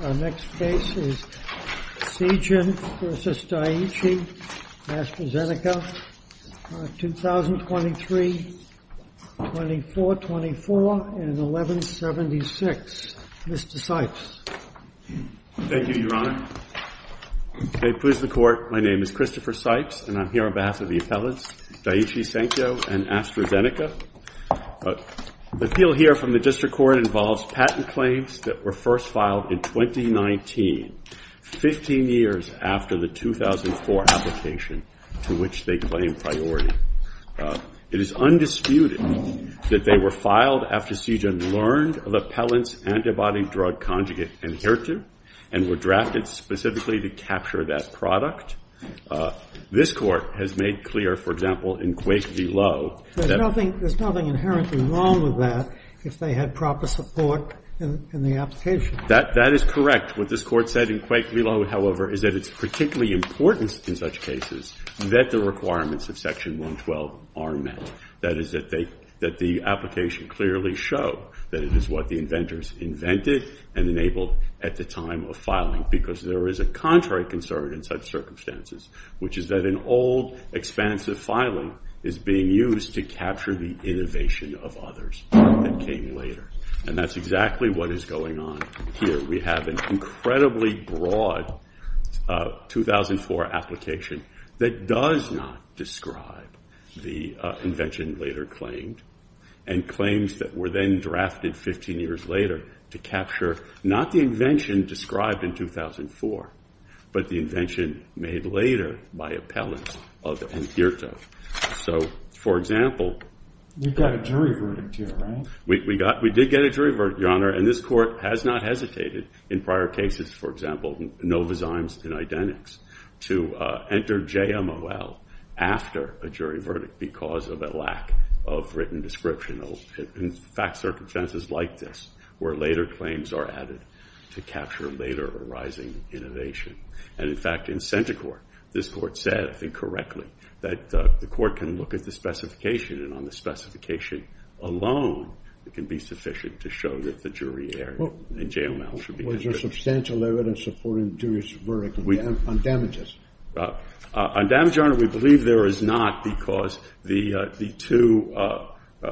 Our next case is Seagen v. Daiichi, AstraZeneca, 2023-2024 and 1176. Mr. Sipes. Thank you, Your Honor. May it please the Court, my name is Christopher Sipes and I'm here on behalf of the appellants, Daiichi Sankyo and AstraZeneca. The appeal here from the District Court involves patent claims that were first filed in 2019, 15 years after the 2004 application to which they claimed priority. It is undisputed that they were filed after Seagen learned of the appellants' antibody drug conjugate, Inheritib, and were drafted specifically to capture that product. This Court has made clear, for example, in Quake v. Lowe that- There's nothing inherently wrong with that if they had proper support in the application. That is correct. What this Court said in Quake v. Lowe, however, is that it's particularly important in such cases that the requirements of Section 112 are met. That is, that the application clearly show that it is what the inventors invented and enabled at the time of filing because there is a contrary concern in such circumstances, which is that an old, expansive filing is being used to capture the innovation of others that came later. And that's exactly what is going on here. We have an incredibly broad 2004 application that does not describe the invention later claimed and claims that were then drafted 15 years later to capture not the invention described in 2004, but the invention made later by appellants of Inheritib. So, for example- You've got a jury verdict here, right? We did get a jury verdict, Your Honor, and this Court has not hesitated in prior cases, for example, Nova Zymes and Identix, to enter JMOL after a jury verdict because of a lack of written description in fact circumstances like this, where later claims are added to capture later arising innovation. And in fact, in center court, this Court said, I think correctly, that the Court can look at the specification and on the specification alone, it can be sufficient to show that the jury error in JML should be- Was there substantial evidence supporting jury's verdict on damages? On damages, Your Honor, we believe there is not because the two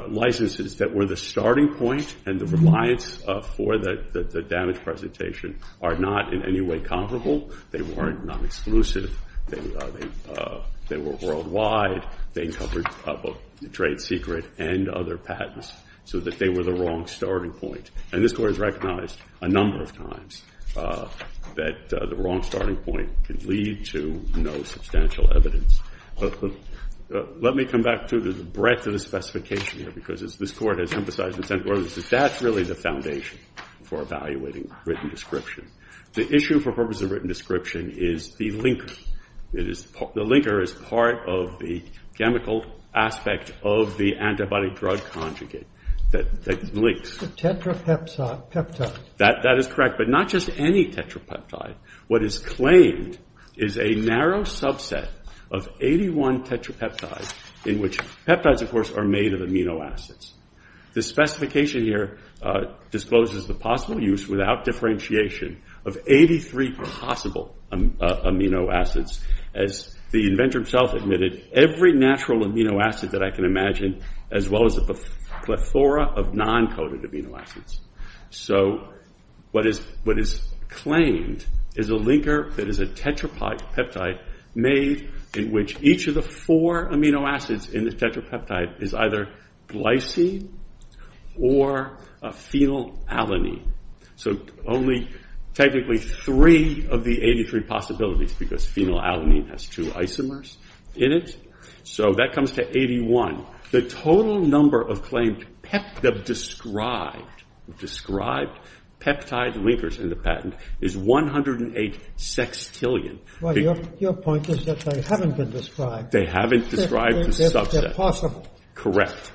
licenses that were the starting point and the reliance for the damage presentation are not in any way comparable. They weren't non-exclusive. They were worldwide. They covered trade secret and other patents, so that they were the wrong starting point. And this Court has recognized a number of times that the wrong starting point can lead to no substantial evidence. Let me come back to the breadth of the specification here because this Court has emphasized in center court, that that's really the foundation for evaluating written description. The issue for purpose of written description is the linker. The linker is part of the chemical aspect of the antibody drug conjugate that links. Tetrapeptide. That is correct, but not just any tetrapeptide. What is claimed is a narrow subset of 81 tetrapeptides in which- Peptides, of course, are made of amino acids. The specification here discloses the possible use without differentiation of 83 possible amino acids. As the inventor himself admitted, every natural amino acid that I can imagine, as well as a plethora of non-coded amino acids. What is claimed is a linker that is a tetrapeptide made in which each of the four amino acids in the tetrapeptide is either glycine or a phenylalanine. Only technically three of the 83 possibilities because phenylalanine has two isomers in it. That comes to 81. The total number of claimed described peptide linkers in the patent is 108 sextillion. Your point is that they haven't been described. They haven't described the subset. They're possible. Correct.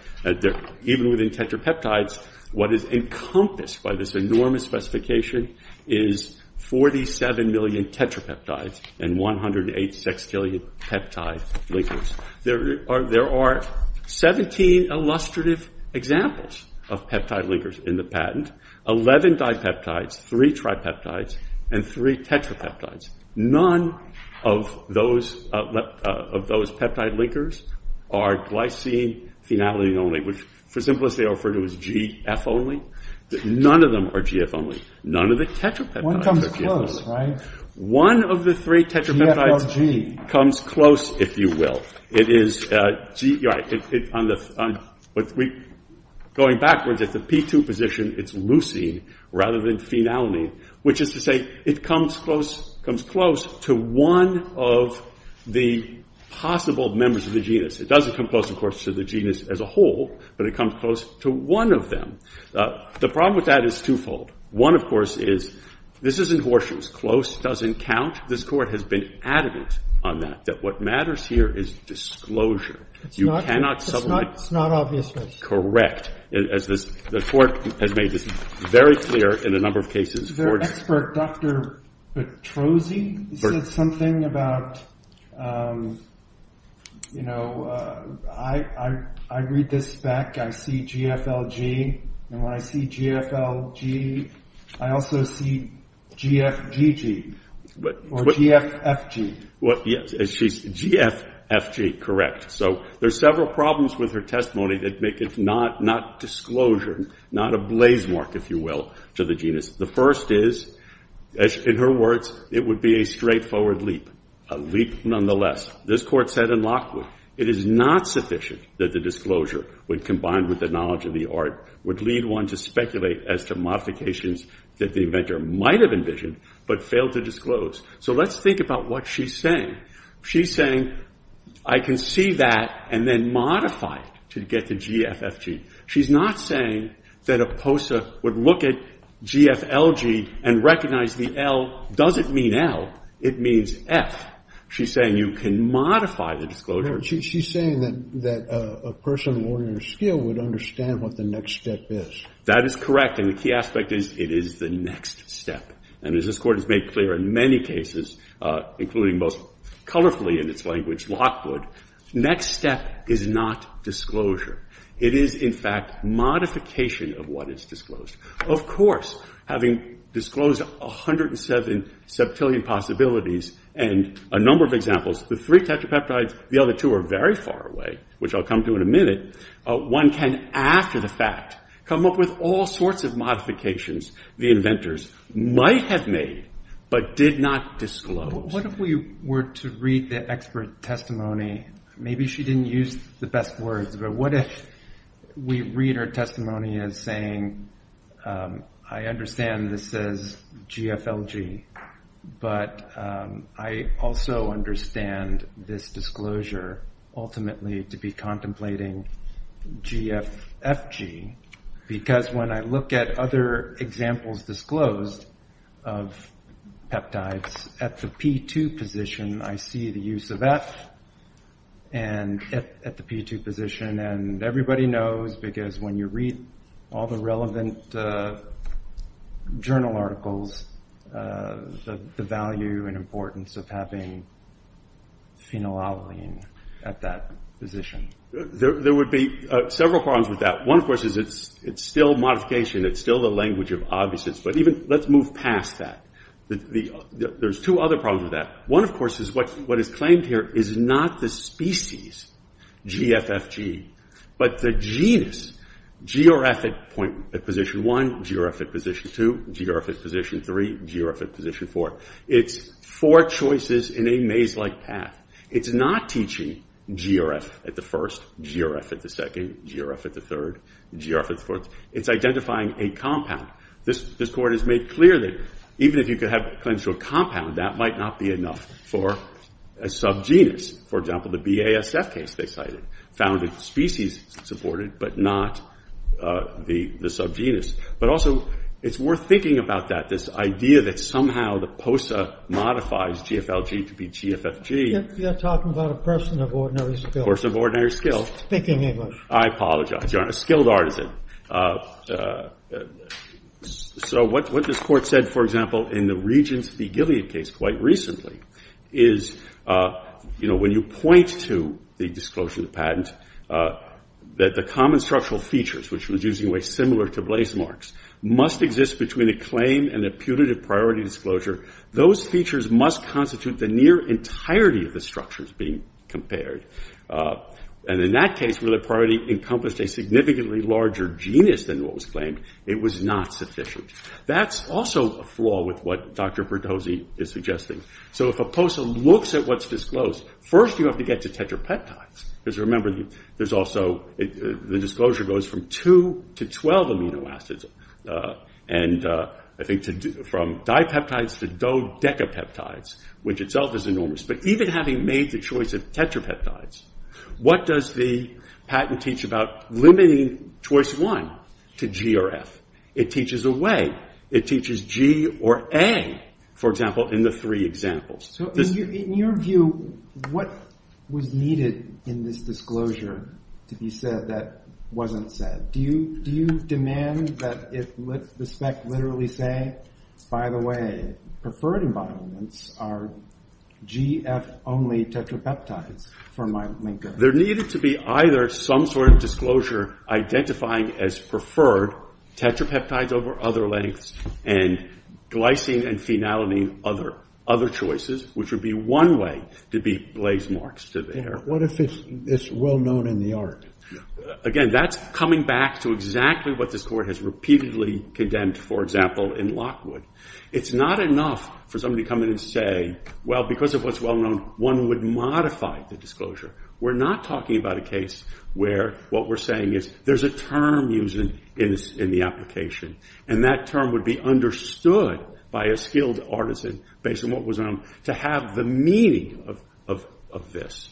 Even within tetrapeptides, what is encompassed by this enormous specification is 47 million tetrapeptides and 108 sextillion peptide linkers. There are 17 illustrative examples of peptide linkers in the patent, 11 dipeptides, 3 tripeptides, and 3 tetrapeptides. None of those peptide linkers are glycine, phenylalanine only, which for the simplest they are referred to as GF only. None of them are GF only. None of the tetrapeptides are GF only. One comes close, right? Going backwards at the P2 position, it's leucine rather than phenylalanine, which is to say it comes close to one of the possible members of the genus. It doesn't come close, of course, to the genus as a whole, but it comes close to one of them. The problem with that is twofold. One, of course, is this isn't horseshoes. Close doesn't count. This Court has been adamant on that, that what matters here is disclosure. You cannot supplement. It's not obvious. Correct. The Court has made this very clear in a number of cases. Dr. Petrosi said something about, you know, I read this back. I see GFLG, and when I see GFLG, I also see GFGG or GFFG. GFFG, correct. There are several problems with her testimony that make it not disclosure, not a blaze mark, if you will, to the genus. The first is, in her words, it would be a straightforward leap, a leap nonetheless. This Court said in Lockwood it is not sufficient that the disclosure, when combined with the knowledge of the art, would lead one to speculate as to modifications that the inventor might have envisioned but failed to disclose. So let's think about what she's saying. She's saying I can see that and then modify it to get to GFFG. She's not saying that a POSA would look at GFLG and recognize the L doesn't mean L, it means F. She's saying you can modify the disclosure. She's saying that a person of ordinary skill would understand what the next step is. That is correct. And the key aspect is it is the next step. And as this Court has made clear in many cases, including most colorfully in its language, Lockwood, next step is not disclosure. It is, in fact, modification of what is disclosed. Of course, having disclosed 107 septillion possibilities and a number of examples, the three tetrapeptides, the other two are very far away, which I'll come to in a minute. One can, after the fact, come up with all sorts of modifications the inventors might have made but did not disclose. What if we were to read the expert testimony, maybe she didn't use the best words, but what if we read her testimony as saying I understand this says GFLG, but I also understand this disclosure ultimately to be contemplating GFFG, because when I look at other examples disclosed of peptides at the P2 position, I see the use of F at the P2 position. And everybody knows because when you read all the relevant journal articles, the value and importance of having phenylalanine at that position. There would be several problems with that. One, of course, is it's still modification. It's still the language of obviousness, but let's move past that. There's two other problems with that. One, of course, is what is claimed here is not the species GFFG, but the genus GRF at position one, GRF at position two, GRF at position three, GRF at position four. It's four choices in a maze-like path. It's not teaching GRF at the first, GRF at the second, GRF at the third, GRF at the fourth. It's identifying a compound. This court has made clear that even if you could have clinical compound, that might not be enough for a subgenus. For example, the BASF case they cited found a species supported but not the subgenus. But also it's worth thinking about that, this idea that somehow the POSA modifies GFLG to be GFFG. You're talking about a person of ordinary skill. A person of ordinary skill. Speaking English. I apologize, Your Honor. A skilled artisan. So what this court said, for example, in the Regence v. Gilead case quite recently, is, you know, when you point to the disclosure of the patent, that the common structural features, which was using a way similar to blazemarks, must exist between a claim and a punitive priority disclosure. Those features must constitute the near entirety of the structures being compared. And in that case, where the priority encompassed a significantly larger genus than what was claimed, it was not sufficient. That's also a flaw with what Dr. Perdozi is suggesting. So if a POSA looks at what's disclosed, first you have to get to tetrapeptides. Because remember, there's also, the disclosure goes from 2 to 12 amino acids. And I think from dipeptides to dodecapeptides, which itself is enormous. But even having made the choice of tetrapeptides, what does the patent teach about limiting choice 1 to G or F? It teaches a way. It teaches G or A, for example, in the three examples. So in your view, what was needed in this disclosure to be said that wasn't said? Do you demand that the spec literally say, by the way, preferred environments are G, F only tetrapeptides for my linker? There needed to be either some sort of disclosure identifying as preferred tetrapeptides over other lengths and glycine and phenylamine other choices, which would be one way to be blazemarks to there. What if it's well known in the art? Again, that's coming back to exactly what this court has repeatedly condemned, for example, in Lockwood. It's not enough for somebody to come in and say, well, because of what's well known, one would modify the disclosure. We're not talking about a case where what we're saying is there's a term used in the application. And that term would be understood by a skilled artisan based on what was known to have the meaning of this.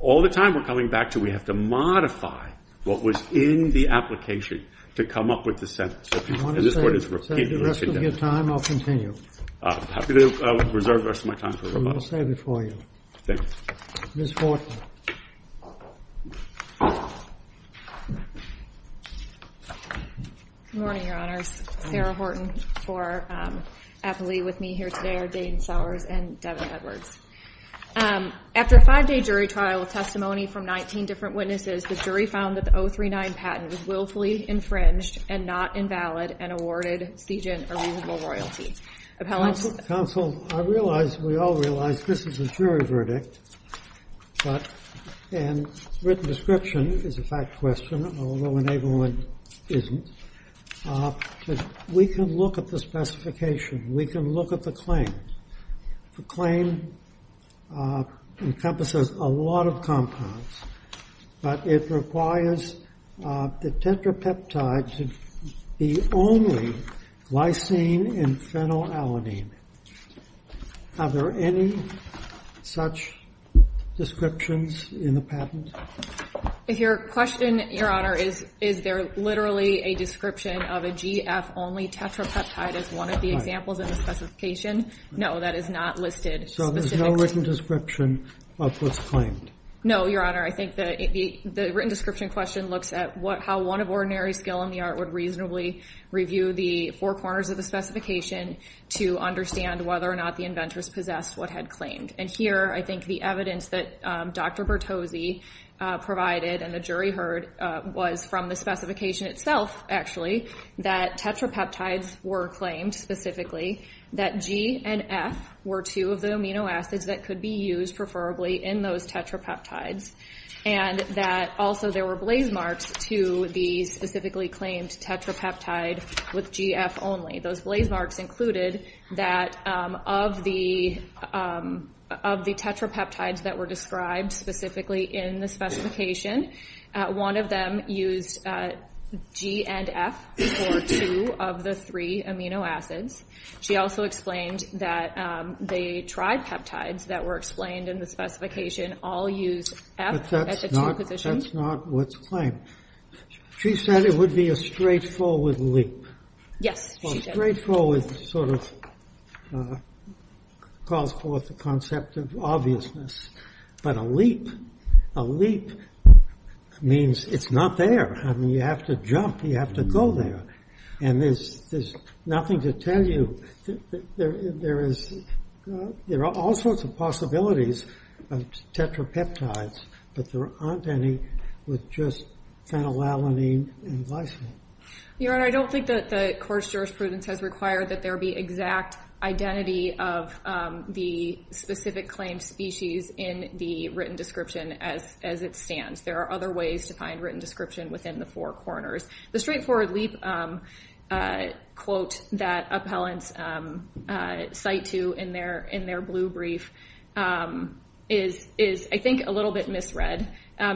All the time we're coming back to we have to modify what was in the application to come up with the sentence. And this court has repeatedly condemned that. I want to save the rest of your time. I'll continue. I'm happy to reserve the rest of my time. We will save it for you. Thank you. Ms. Horton. Good morning, Your Honors. Sarah Horton for happily with me here today are Dane Sowers and Devin Edwards. After a five-day jury trial with testimony from 19 different witnesses, the jury found that the 039 patent was willfully infringed and not invalid and awarded Seigent a reasonable royalty. Counsel, I realize, we all realize, this is a jury verdict. And written description is a fact question, although enablement isn't. We can look at the specification. We can look at the claim. The claim encompasses a lot of compounds. But it requires the tetrapeptide to be only glycine and phenylalanine. Are there any such descriptions in the patent? If your question, Your Honor, is there literally a description of a GF-only tetrapeptide as one of the examples in the specification? No, that is not listed. So there's no written description of what's claimed? No, Your Honor. I think the written description question looks at how one of ordinary skill in the art would reasonably review the four corners of the specification to understand whether or not the inventors possessed what had claimed. And here I think the evidence that Dr. Bertozzi provided and the jury heard was from the specification itself, actually, that tetrapeptides were claimed specifically, that G and F were two of the amino acids that could be used preferably in those tetrapeptides, and that also there were blaze marks to the specifically claimed tetrapeptide with GF only. Those blaze marks included that of the tetrapeptides that were described specifically in the specification, one of them used G and F for two of the three amino acids. She also explained that the tripeptides that were explained in the specification all used F at the two positions. But that's not what's claimed. She said it would be a straightforward leap. Yes, she did. Well, straightforward sort of calls forth the concept of obviousness. But a leap, a leap means it's not there. I mean, you have to jump. You have to go there. And there's nothing to tell you. There are all sorts of possibilities of tetrapeptides, but there aren't any with just phenylalanine and glycine. Your Honor, I don't think that the court's jurisprudence has required that there be exact identity of the specific claimed species in the written description as it stands. There are other ways to find written description within the four corners. The straightforward leap quote that appellants cite to in their blue brief is, I think, a little bit misread.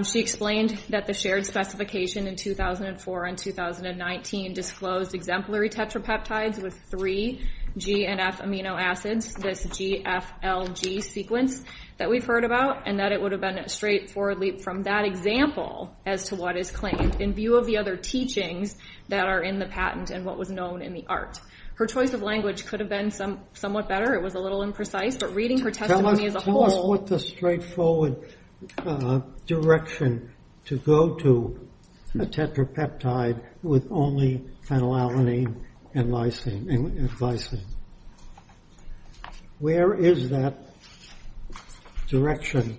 She explained that the shared specification in 2004 and 2019 disclosed exemplary tetrapeptides with three G and F amino acids, this GFLG sequence that we've heard about, and that it would have been a straightforward leap from that example as to what is claimed in view of the other teachings that are in the patent and what was known in the art. Her choice of language could have been somewhat better. It was a little imprecise. Tell us what the straightforward direction to go to a tetrapeptide with only phenylalanine and glycine. Where is that direction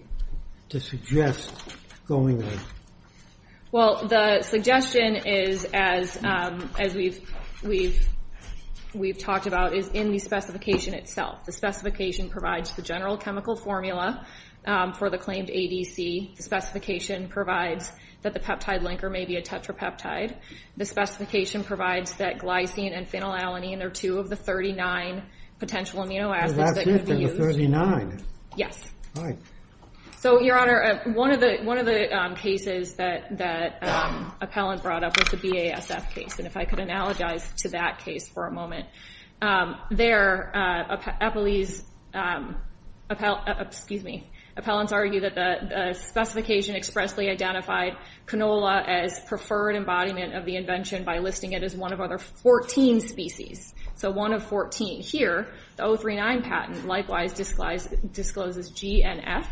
to suggest going? Well, the suggestion is, as we've talked about, is in the specification itself. The specification provides the general chemical formula for the claimed ADC. The specification provides that the peptide linker may be a tetrapeptide. The specification provides that glycine and phenylalanine are two of the 39 potential amino acids that could be used. So that's it, then, the 39? Yes. All right. So, Your Honor, one of the cases that appellant brought up was the BASF case, and if I could analogize to that case for a moment. There, appellants argue that the specification expressly identified canola as preferred embodiment of the invention by listing it as one of other 14 species. So one of 14. Here, the 039 patent likewise discloses GNF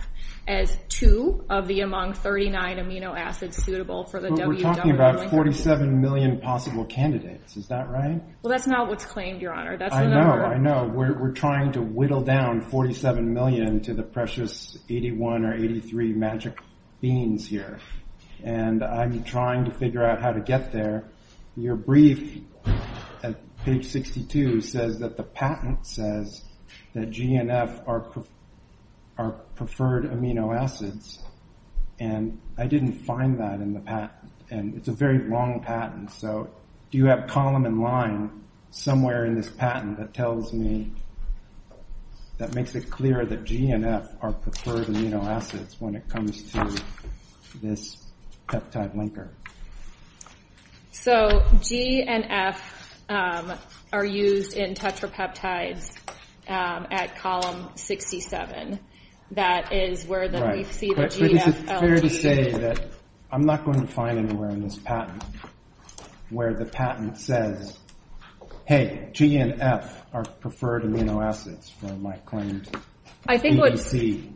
as two of the among 39 amino acids suitable for the WWL linker. But we're talking about 47 million possible candidates. Is that right? Well, that's not what's claimed, Your Honor. I know. I know. We're trying to whittle down 47 million to the precious 81 or 83 magic beans here, and I'm trying to figure out how to get there. Your brief at page 62 says that the patent says that GNF are preferred amino acids, and I didn't find that in the patent, and it's a very long patent. So do you have a column in line somewhere in this patent that tells me, that makes it clear that GNF are preferred amino acids when it comes to this peptide linker? So GNF are used in tetrapeptides at column 67. That is where we see the G-N-F-L-G. But is it fair to say that I'm not going to find anywhere in this patent where the patent says, hey, GNF are preferred amino acids for my claimed EDC?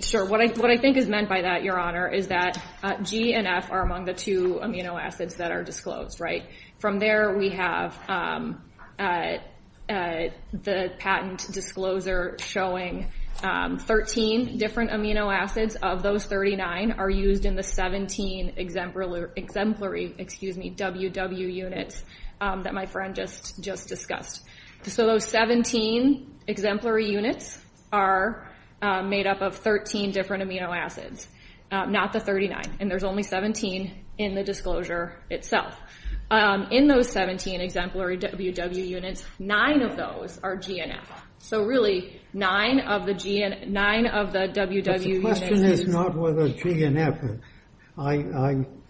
Sure. What I think is meant by that, Your Honor, is that GNF are among the two amino acids that are disclosed, right? From there, we have the patent disclosure showing 13 different amino acids. Of those, 39 are used in the 17 exemplary WW units that my friend just discussed. So those 17 exemplary units are made up of 13 different amino acids, not the 39, and there's only 17 in the disclosure itself. In those 17 exemplary WW units, 9 of those are GNF. So really, 9 of the WW units are used. But the question is not whether GNF, I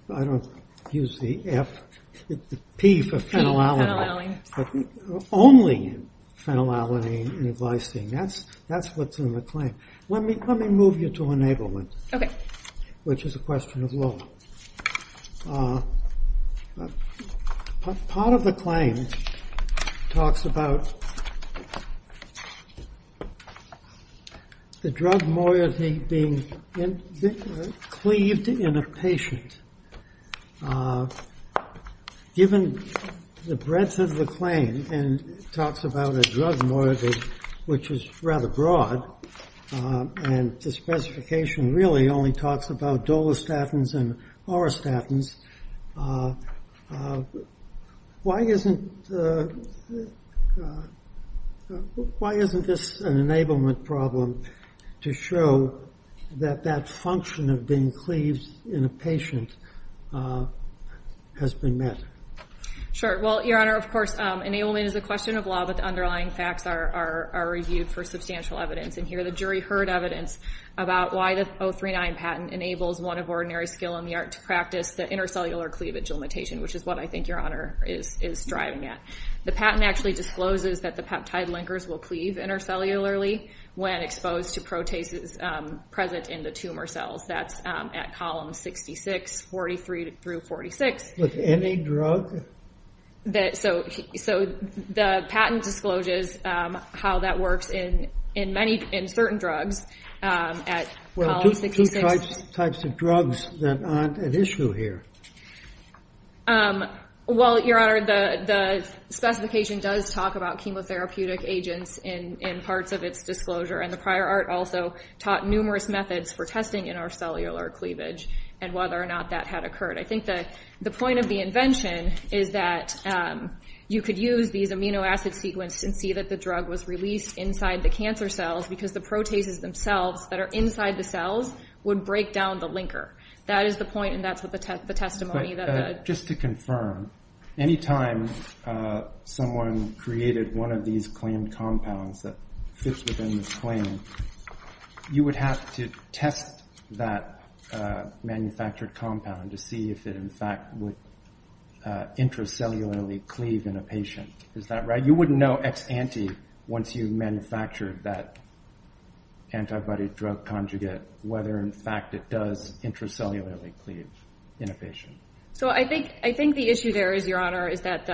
don't use the F, the P for phenylalanine. Only phenylalanine and glycine. That's what's in the claim. Let me move you to enablement. OK. Which is a question of law. Part of the claim talks about the drug moiety being cleaved in a patient. Given the breadth of the claim, and talks about a drug moiety which is rather broad, and the specification really only talks about dolestatins and orostatins, why isn't this an enablement problem to show that that function of being cleaved in a patient has been met? Sure. Well, Your Honor, of course, enablement is a question of law, but the underlying facts are reviewed for substantial evidence. And here the jury heard evidence about why the 039 patent enables one of ordinary skill in the art to practice the intercellular cleavage limitation, which is what I think Your Honor is striving at. The patent actually discloses that the peptide linkers will cleave intercellularly when exposed to proteases present in the tumor cells. That's at column 66, 43 through 46. With any drug? So the patent discloses how that works in certain drugs at column 66. Well, two types of drugs that aren't an issue here. Well, Your Honor, the specification does talk about chemotherapeutic agents in parts of its disclosure, and the prior art also taught numerous methods for testing intercellular cleavage, and whether or not that had occurred. I think the point of the invention is that you could use these amino acid sequences and see that the drug was released inside the cancer cells because the proteases themselves that are inside the cells would break down the linker. That is the point, and that's what the testimony that the – But just to confirm, any time someone created one of these claimed compounds that fits within this claim, you would have to test that manufactured compound to see if it in fact would intercellularly cleave in a patient. Is that right? You wouldn't know ex ante once you've manufactured that antibody drug conjugate whether in fact it does intercellularly cleave in a patient. So I think the issue there is, Your Honor, is that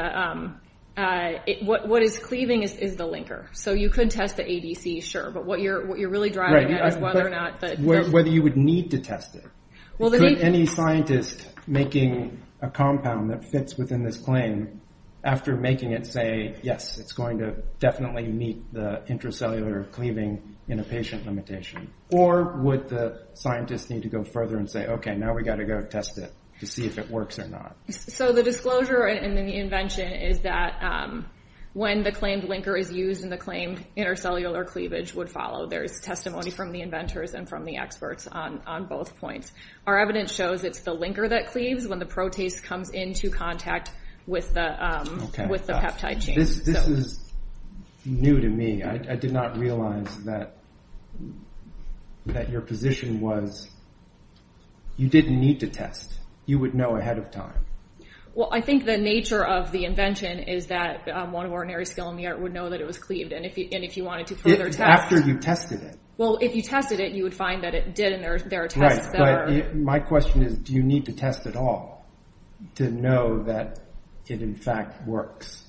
what is cleaving is the linker. So you could test the ADC, sure, but what you're really driving at is whether or not – Whether you would need to test it. Could any scientist making a compound that fits within this claim, after making it say, yes, it's going to definitely meet the intercellular cleaving in a patient limitation? Or would the scientist need to go further and say, okay, now we've got to go test it to see if it works or not? So the disclosure in the invention is that when the claimed linker is used and the claimed intercellular cleavage would follow, there is testimony from the inventors and from the experts on both points. Our evidence shows it's the linker that cleaves when the protase comes into contact with the peptide chain. This is new to me. I did not realize that your position was you didn't need to test. You would know ahead of time. Well, I think the nature of the invention is that one of ordinary skill in the art would know that it was cleaved, and if you wanted to further test – After you tested it. Well, if you tested it, you would find that it did, and there are tests that are – Right, but my question is, do you need to test at all to know that it in fact works?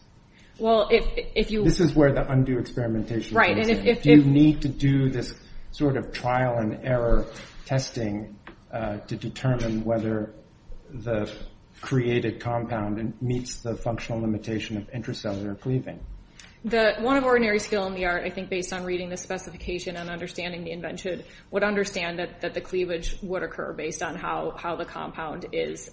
Well, if you – This is where the undue experimentation comes in. Do you need to do this sort of trial and error testing to determine whether the created compound meets the functional limitation of intercellular cleaving? The one of ordinary skill in the art, I think based on reading the specification and understanding the invention, would understand that the cleavage would occur based on how the compound is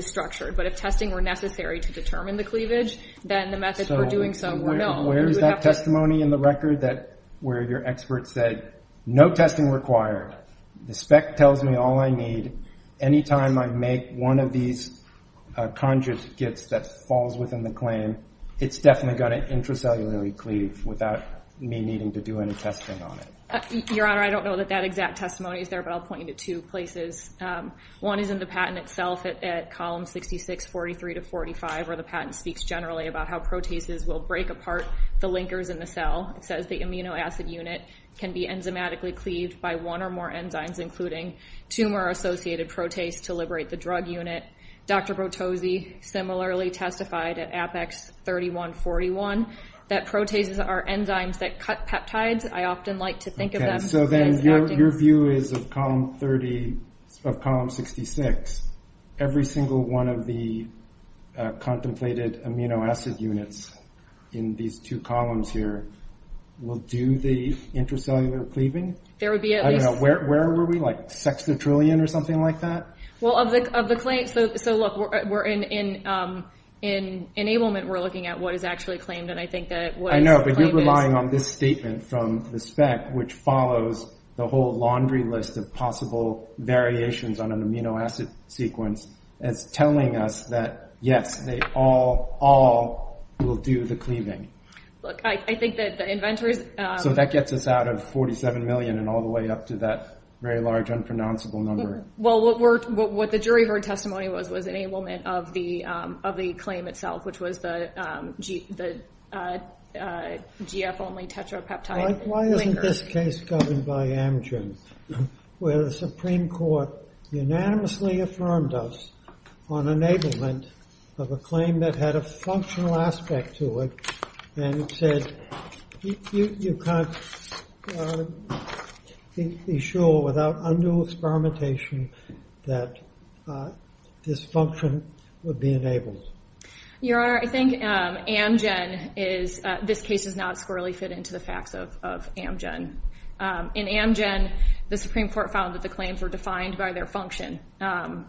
structured, but if testing were necessary to determine the cleavage, then the method for doing so would know. Where is that testimony in the record where your expert said, no testing required, the spec tells me all I need, any time I make one of these conjugates that falls within the claim, it's definitely going to intracellularly cleave without me needing to do any testing on it? Your Honor, I don't know that that exact testimony is there, but I'll point you to two places. One is in the patent itself at column 66, 43 to 45, where the patent speaks generally about how protases will break apart the linkers in the cell. It says the amino acid unit can be enzymatically cleaved by one or more enzymes, including tumor-associated protase to liberate the drug unit. Dr. Bortosi similarly testified at Apex 3141 that protases are enzymes that cut peptides. I often like to think of them as acting... Your view is of column 66, every single one of the contemplated amino acid units in these two columns here will do the intracellular cleaving? There would be at least... I don't know, where were we, like a sextra trillion or something like that? Well, of the claims, so look, in enablement we're looking at what is actually claimed, and I think that what is claimed is... The laundry list of possible variations on an amino acid sequence is telling us that, yes, they all will do the cleaving. Look, I think that the inventors... So that gets us out of 47 million and all the way up to that very large unpronounceable number. Well, what the jury heard testimony was was enablement of the claim itself, which was the GF-only tetrapeptide linker. Why isn't this case governed by Amgen, where the Supreme Court unanimously affirmed us on enablement of a claim that had a functional aspect to it and said you can't be sure without undue experimentation that this function would be enabled? Your Honor, I think Amgen is... This case does not squarely fit into the facts of Amgen. In Amgen, the Supreme Court found that the claims were defined by their function.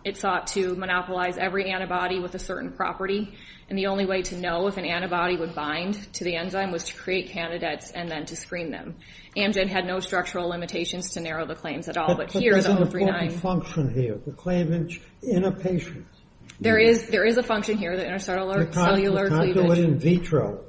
It sought to monopolize every antibody with a certain property, and the only way to know if an antibody would bind to the enzyme was to create candidates and then to screen them. Amgen had no structural limitations to narrow the claims at all, but here... But there's an important function here, the claim in a patient. There is a function here, the intercellular cleavage. You can't do it in vitro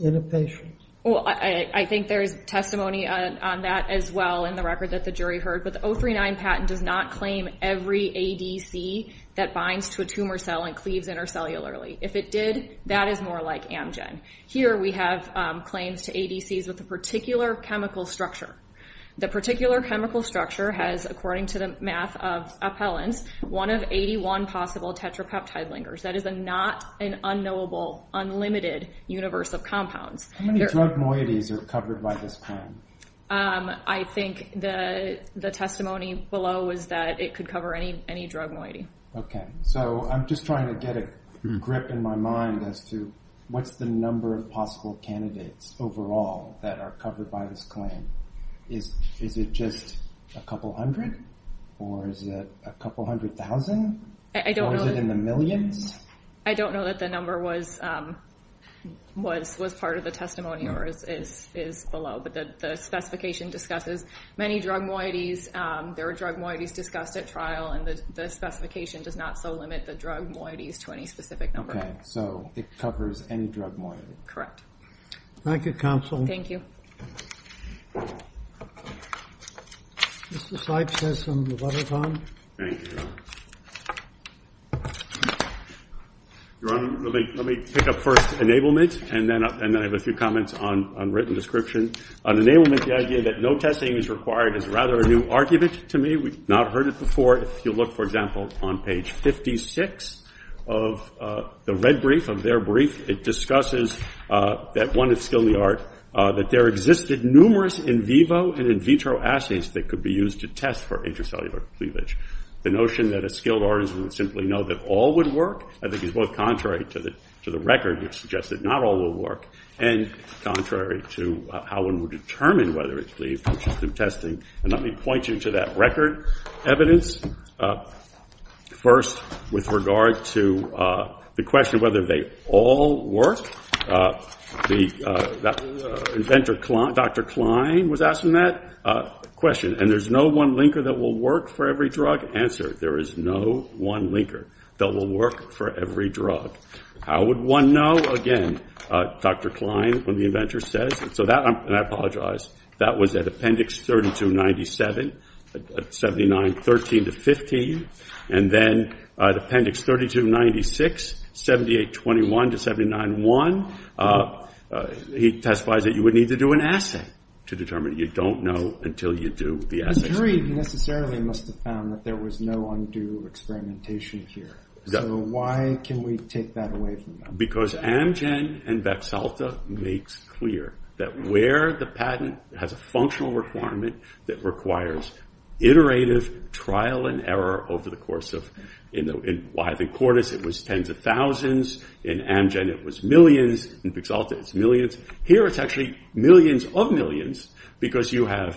in a patient. Well, I think there is testimony on that as well in the record that the jury heard, but the 039 patent does not claim every ADC that binds to a tumor cell and cleaves intercellularly. If it did, that is more like Amgen. Here we have claims to ADCs with a particular chemical structure. The particular chemical structure has, according to the math of appellants, one of 81 possible tetrapeptide linkers. That is not an unknowable, unlimited universe of compounds. How many drug moieties are covered by this claim? I think the testimony below was that it could cover any drug moiety. Okay. So I'm just trying to get a grip in my mind as to what's the number of possible candidates overall that are covered by this claim. Is it just a couple hundred or is it a couple hundred thousand? Or is it in the millions? I don't know that the number was part of the testimony or is below, but the specification discusses many drug moieties. There are drug moieties discussed at trial, and the specification does not so limit the drug moieties to any specific number. Okay. So it covers any drug moiety. Correct. Thank you, Counsel. Thank you. Mr. Sipes has some letters on. Thank you. Your Honor, let me pick up first enablement, and then I have a few comments on written description. On enablement, the idea that no testing is required is rather a new argument to me. We've not heard it before. If you look, for example, on page 56 of the red brief, of their brief, it discusses that one is skill in the art, that there existed numerous in vivo and in vitro assays that could be used to test for intracellular cleavage. The notion that a skilled artisan would simply know that all would work, I think is both contrary to the record, which suggests that not all will work, and contrary to how one would determine whether it's cleaved through testing. And let me point you to that record evidence. First, with regard to the question of whether they all work, Dr. Klein was asking that question, and there's no one linker that will work for every drug? Answer, there is no one linker that will work for every drug. How would one know? Again, Dr. Klein, one of the inventors, says, and I apologize, that was at Appendix 3297, 7913-15, and then at Appendix 3296, 7821-791, he testifies that you would need to do an assay to determine you don't know until you do the assay. The jury necessarily must have found that there was no undue experimentation here. So why can we take that away from them? Because Amgen and Vexalta makes clear that where the patent has a functional requirement that requires iterative trial and error over the course of, in Wythe and Cordes it was tens of thousands, in Amgen it was millions, in Vexalta it's millions, here it's actually millions of millions, because you have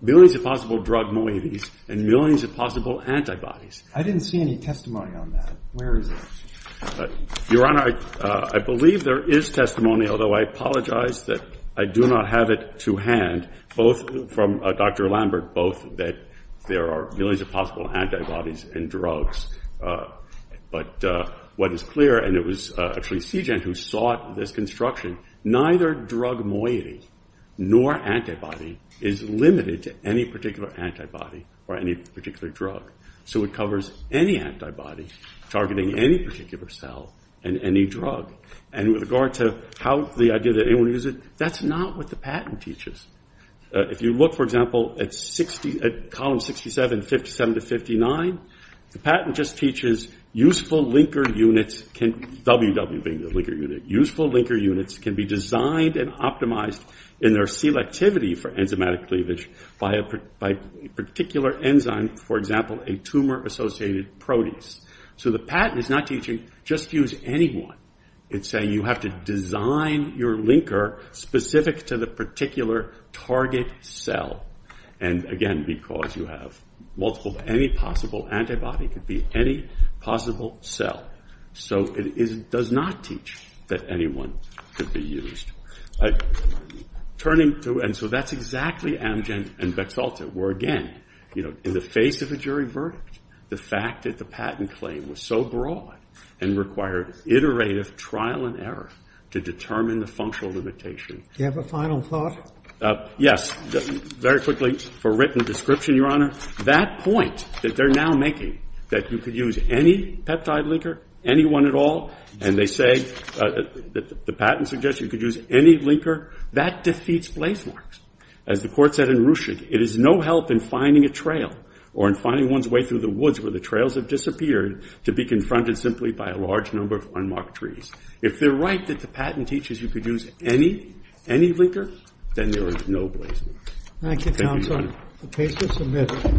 millions of possible drug moieties and millions of possible antibodies. I didn't see any testimony on that. Where is it? Your Honor, I believe there is testimony, although I apologize that I do not have it to hand, both from Dr. Lambert, both that there are millions of possible antibodies and drugs. But what is clear, and it was actually CIGENT who sought this construction, neither drug moiety nor antibody is limited to any particular antibody or any particular drug. So it covers any antibody targeting any particular cell and any drug. And with regard to the idea that anyone uses it, that's not what the patent teaches. If you look, for example, at column 67, 57 to 59, the patent just teaches useful linker units, WW being the linker unit, useful linker units can be designed and optimized in their selectivity for enzymatic cleavage by a particular enzyme, for example, a tumor-associated protease. So the patent is not teaching just use anyone. It's saying you have to design your linker specific to the particular target cell. And again, because you have multiple, any possible antibody could be any possible cell. So it does not teach that anyone could be used. Turning to, and so that's exactly Amgen and Bexalta, where again, in the face of a jury verdict, the fact that the patent claim was so broad and required iterative trial and error to determine the functional limitation. Do you have a final thought? Yes. Very quickly, for written description, Your Honor, that point that they're now making, that you could use any peptide linker, anyone at all, and they say that the patent suggests you could use any linker, that defeats blazemarks. As the Court said in Ruchig, it is no help in finding a trail or in finding one's way through the woods where the trails have disappeared to be confronted simply by a large number of unmarked trees. If they're right that the patent teaches you could use any, any linker, then there is no blazemark. Thank you, counsel. The case is submitted.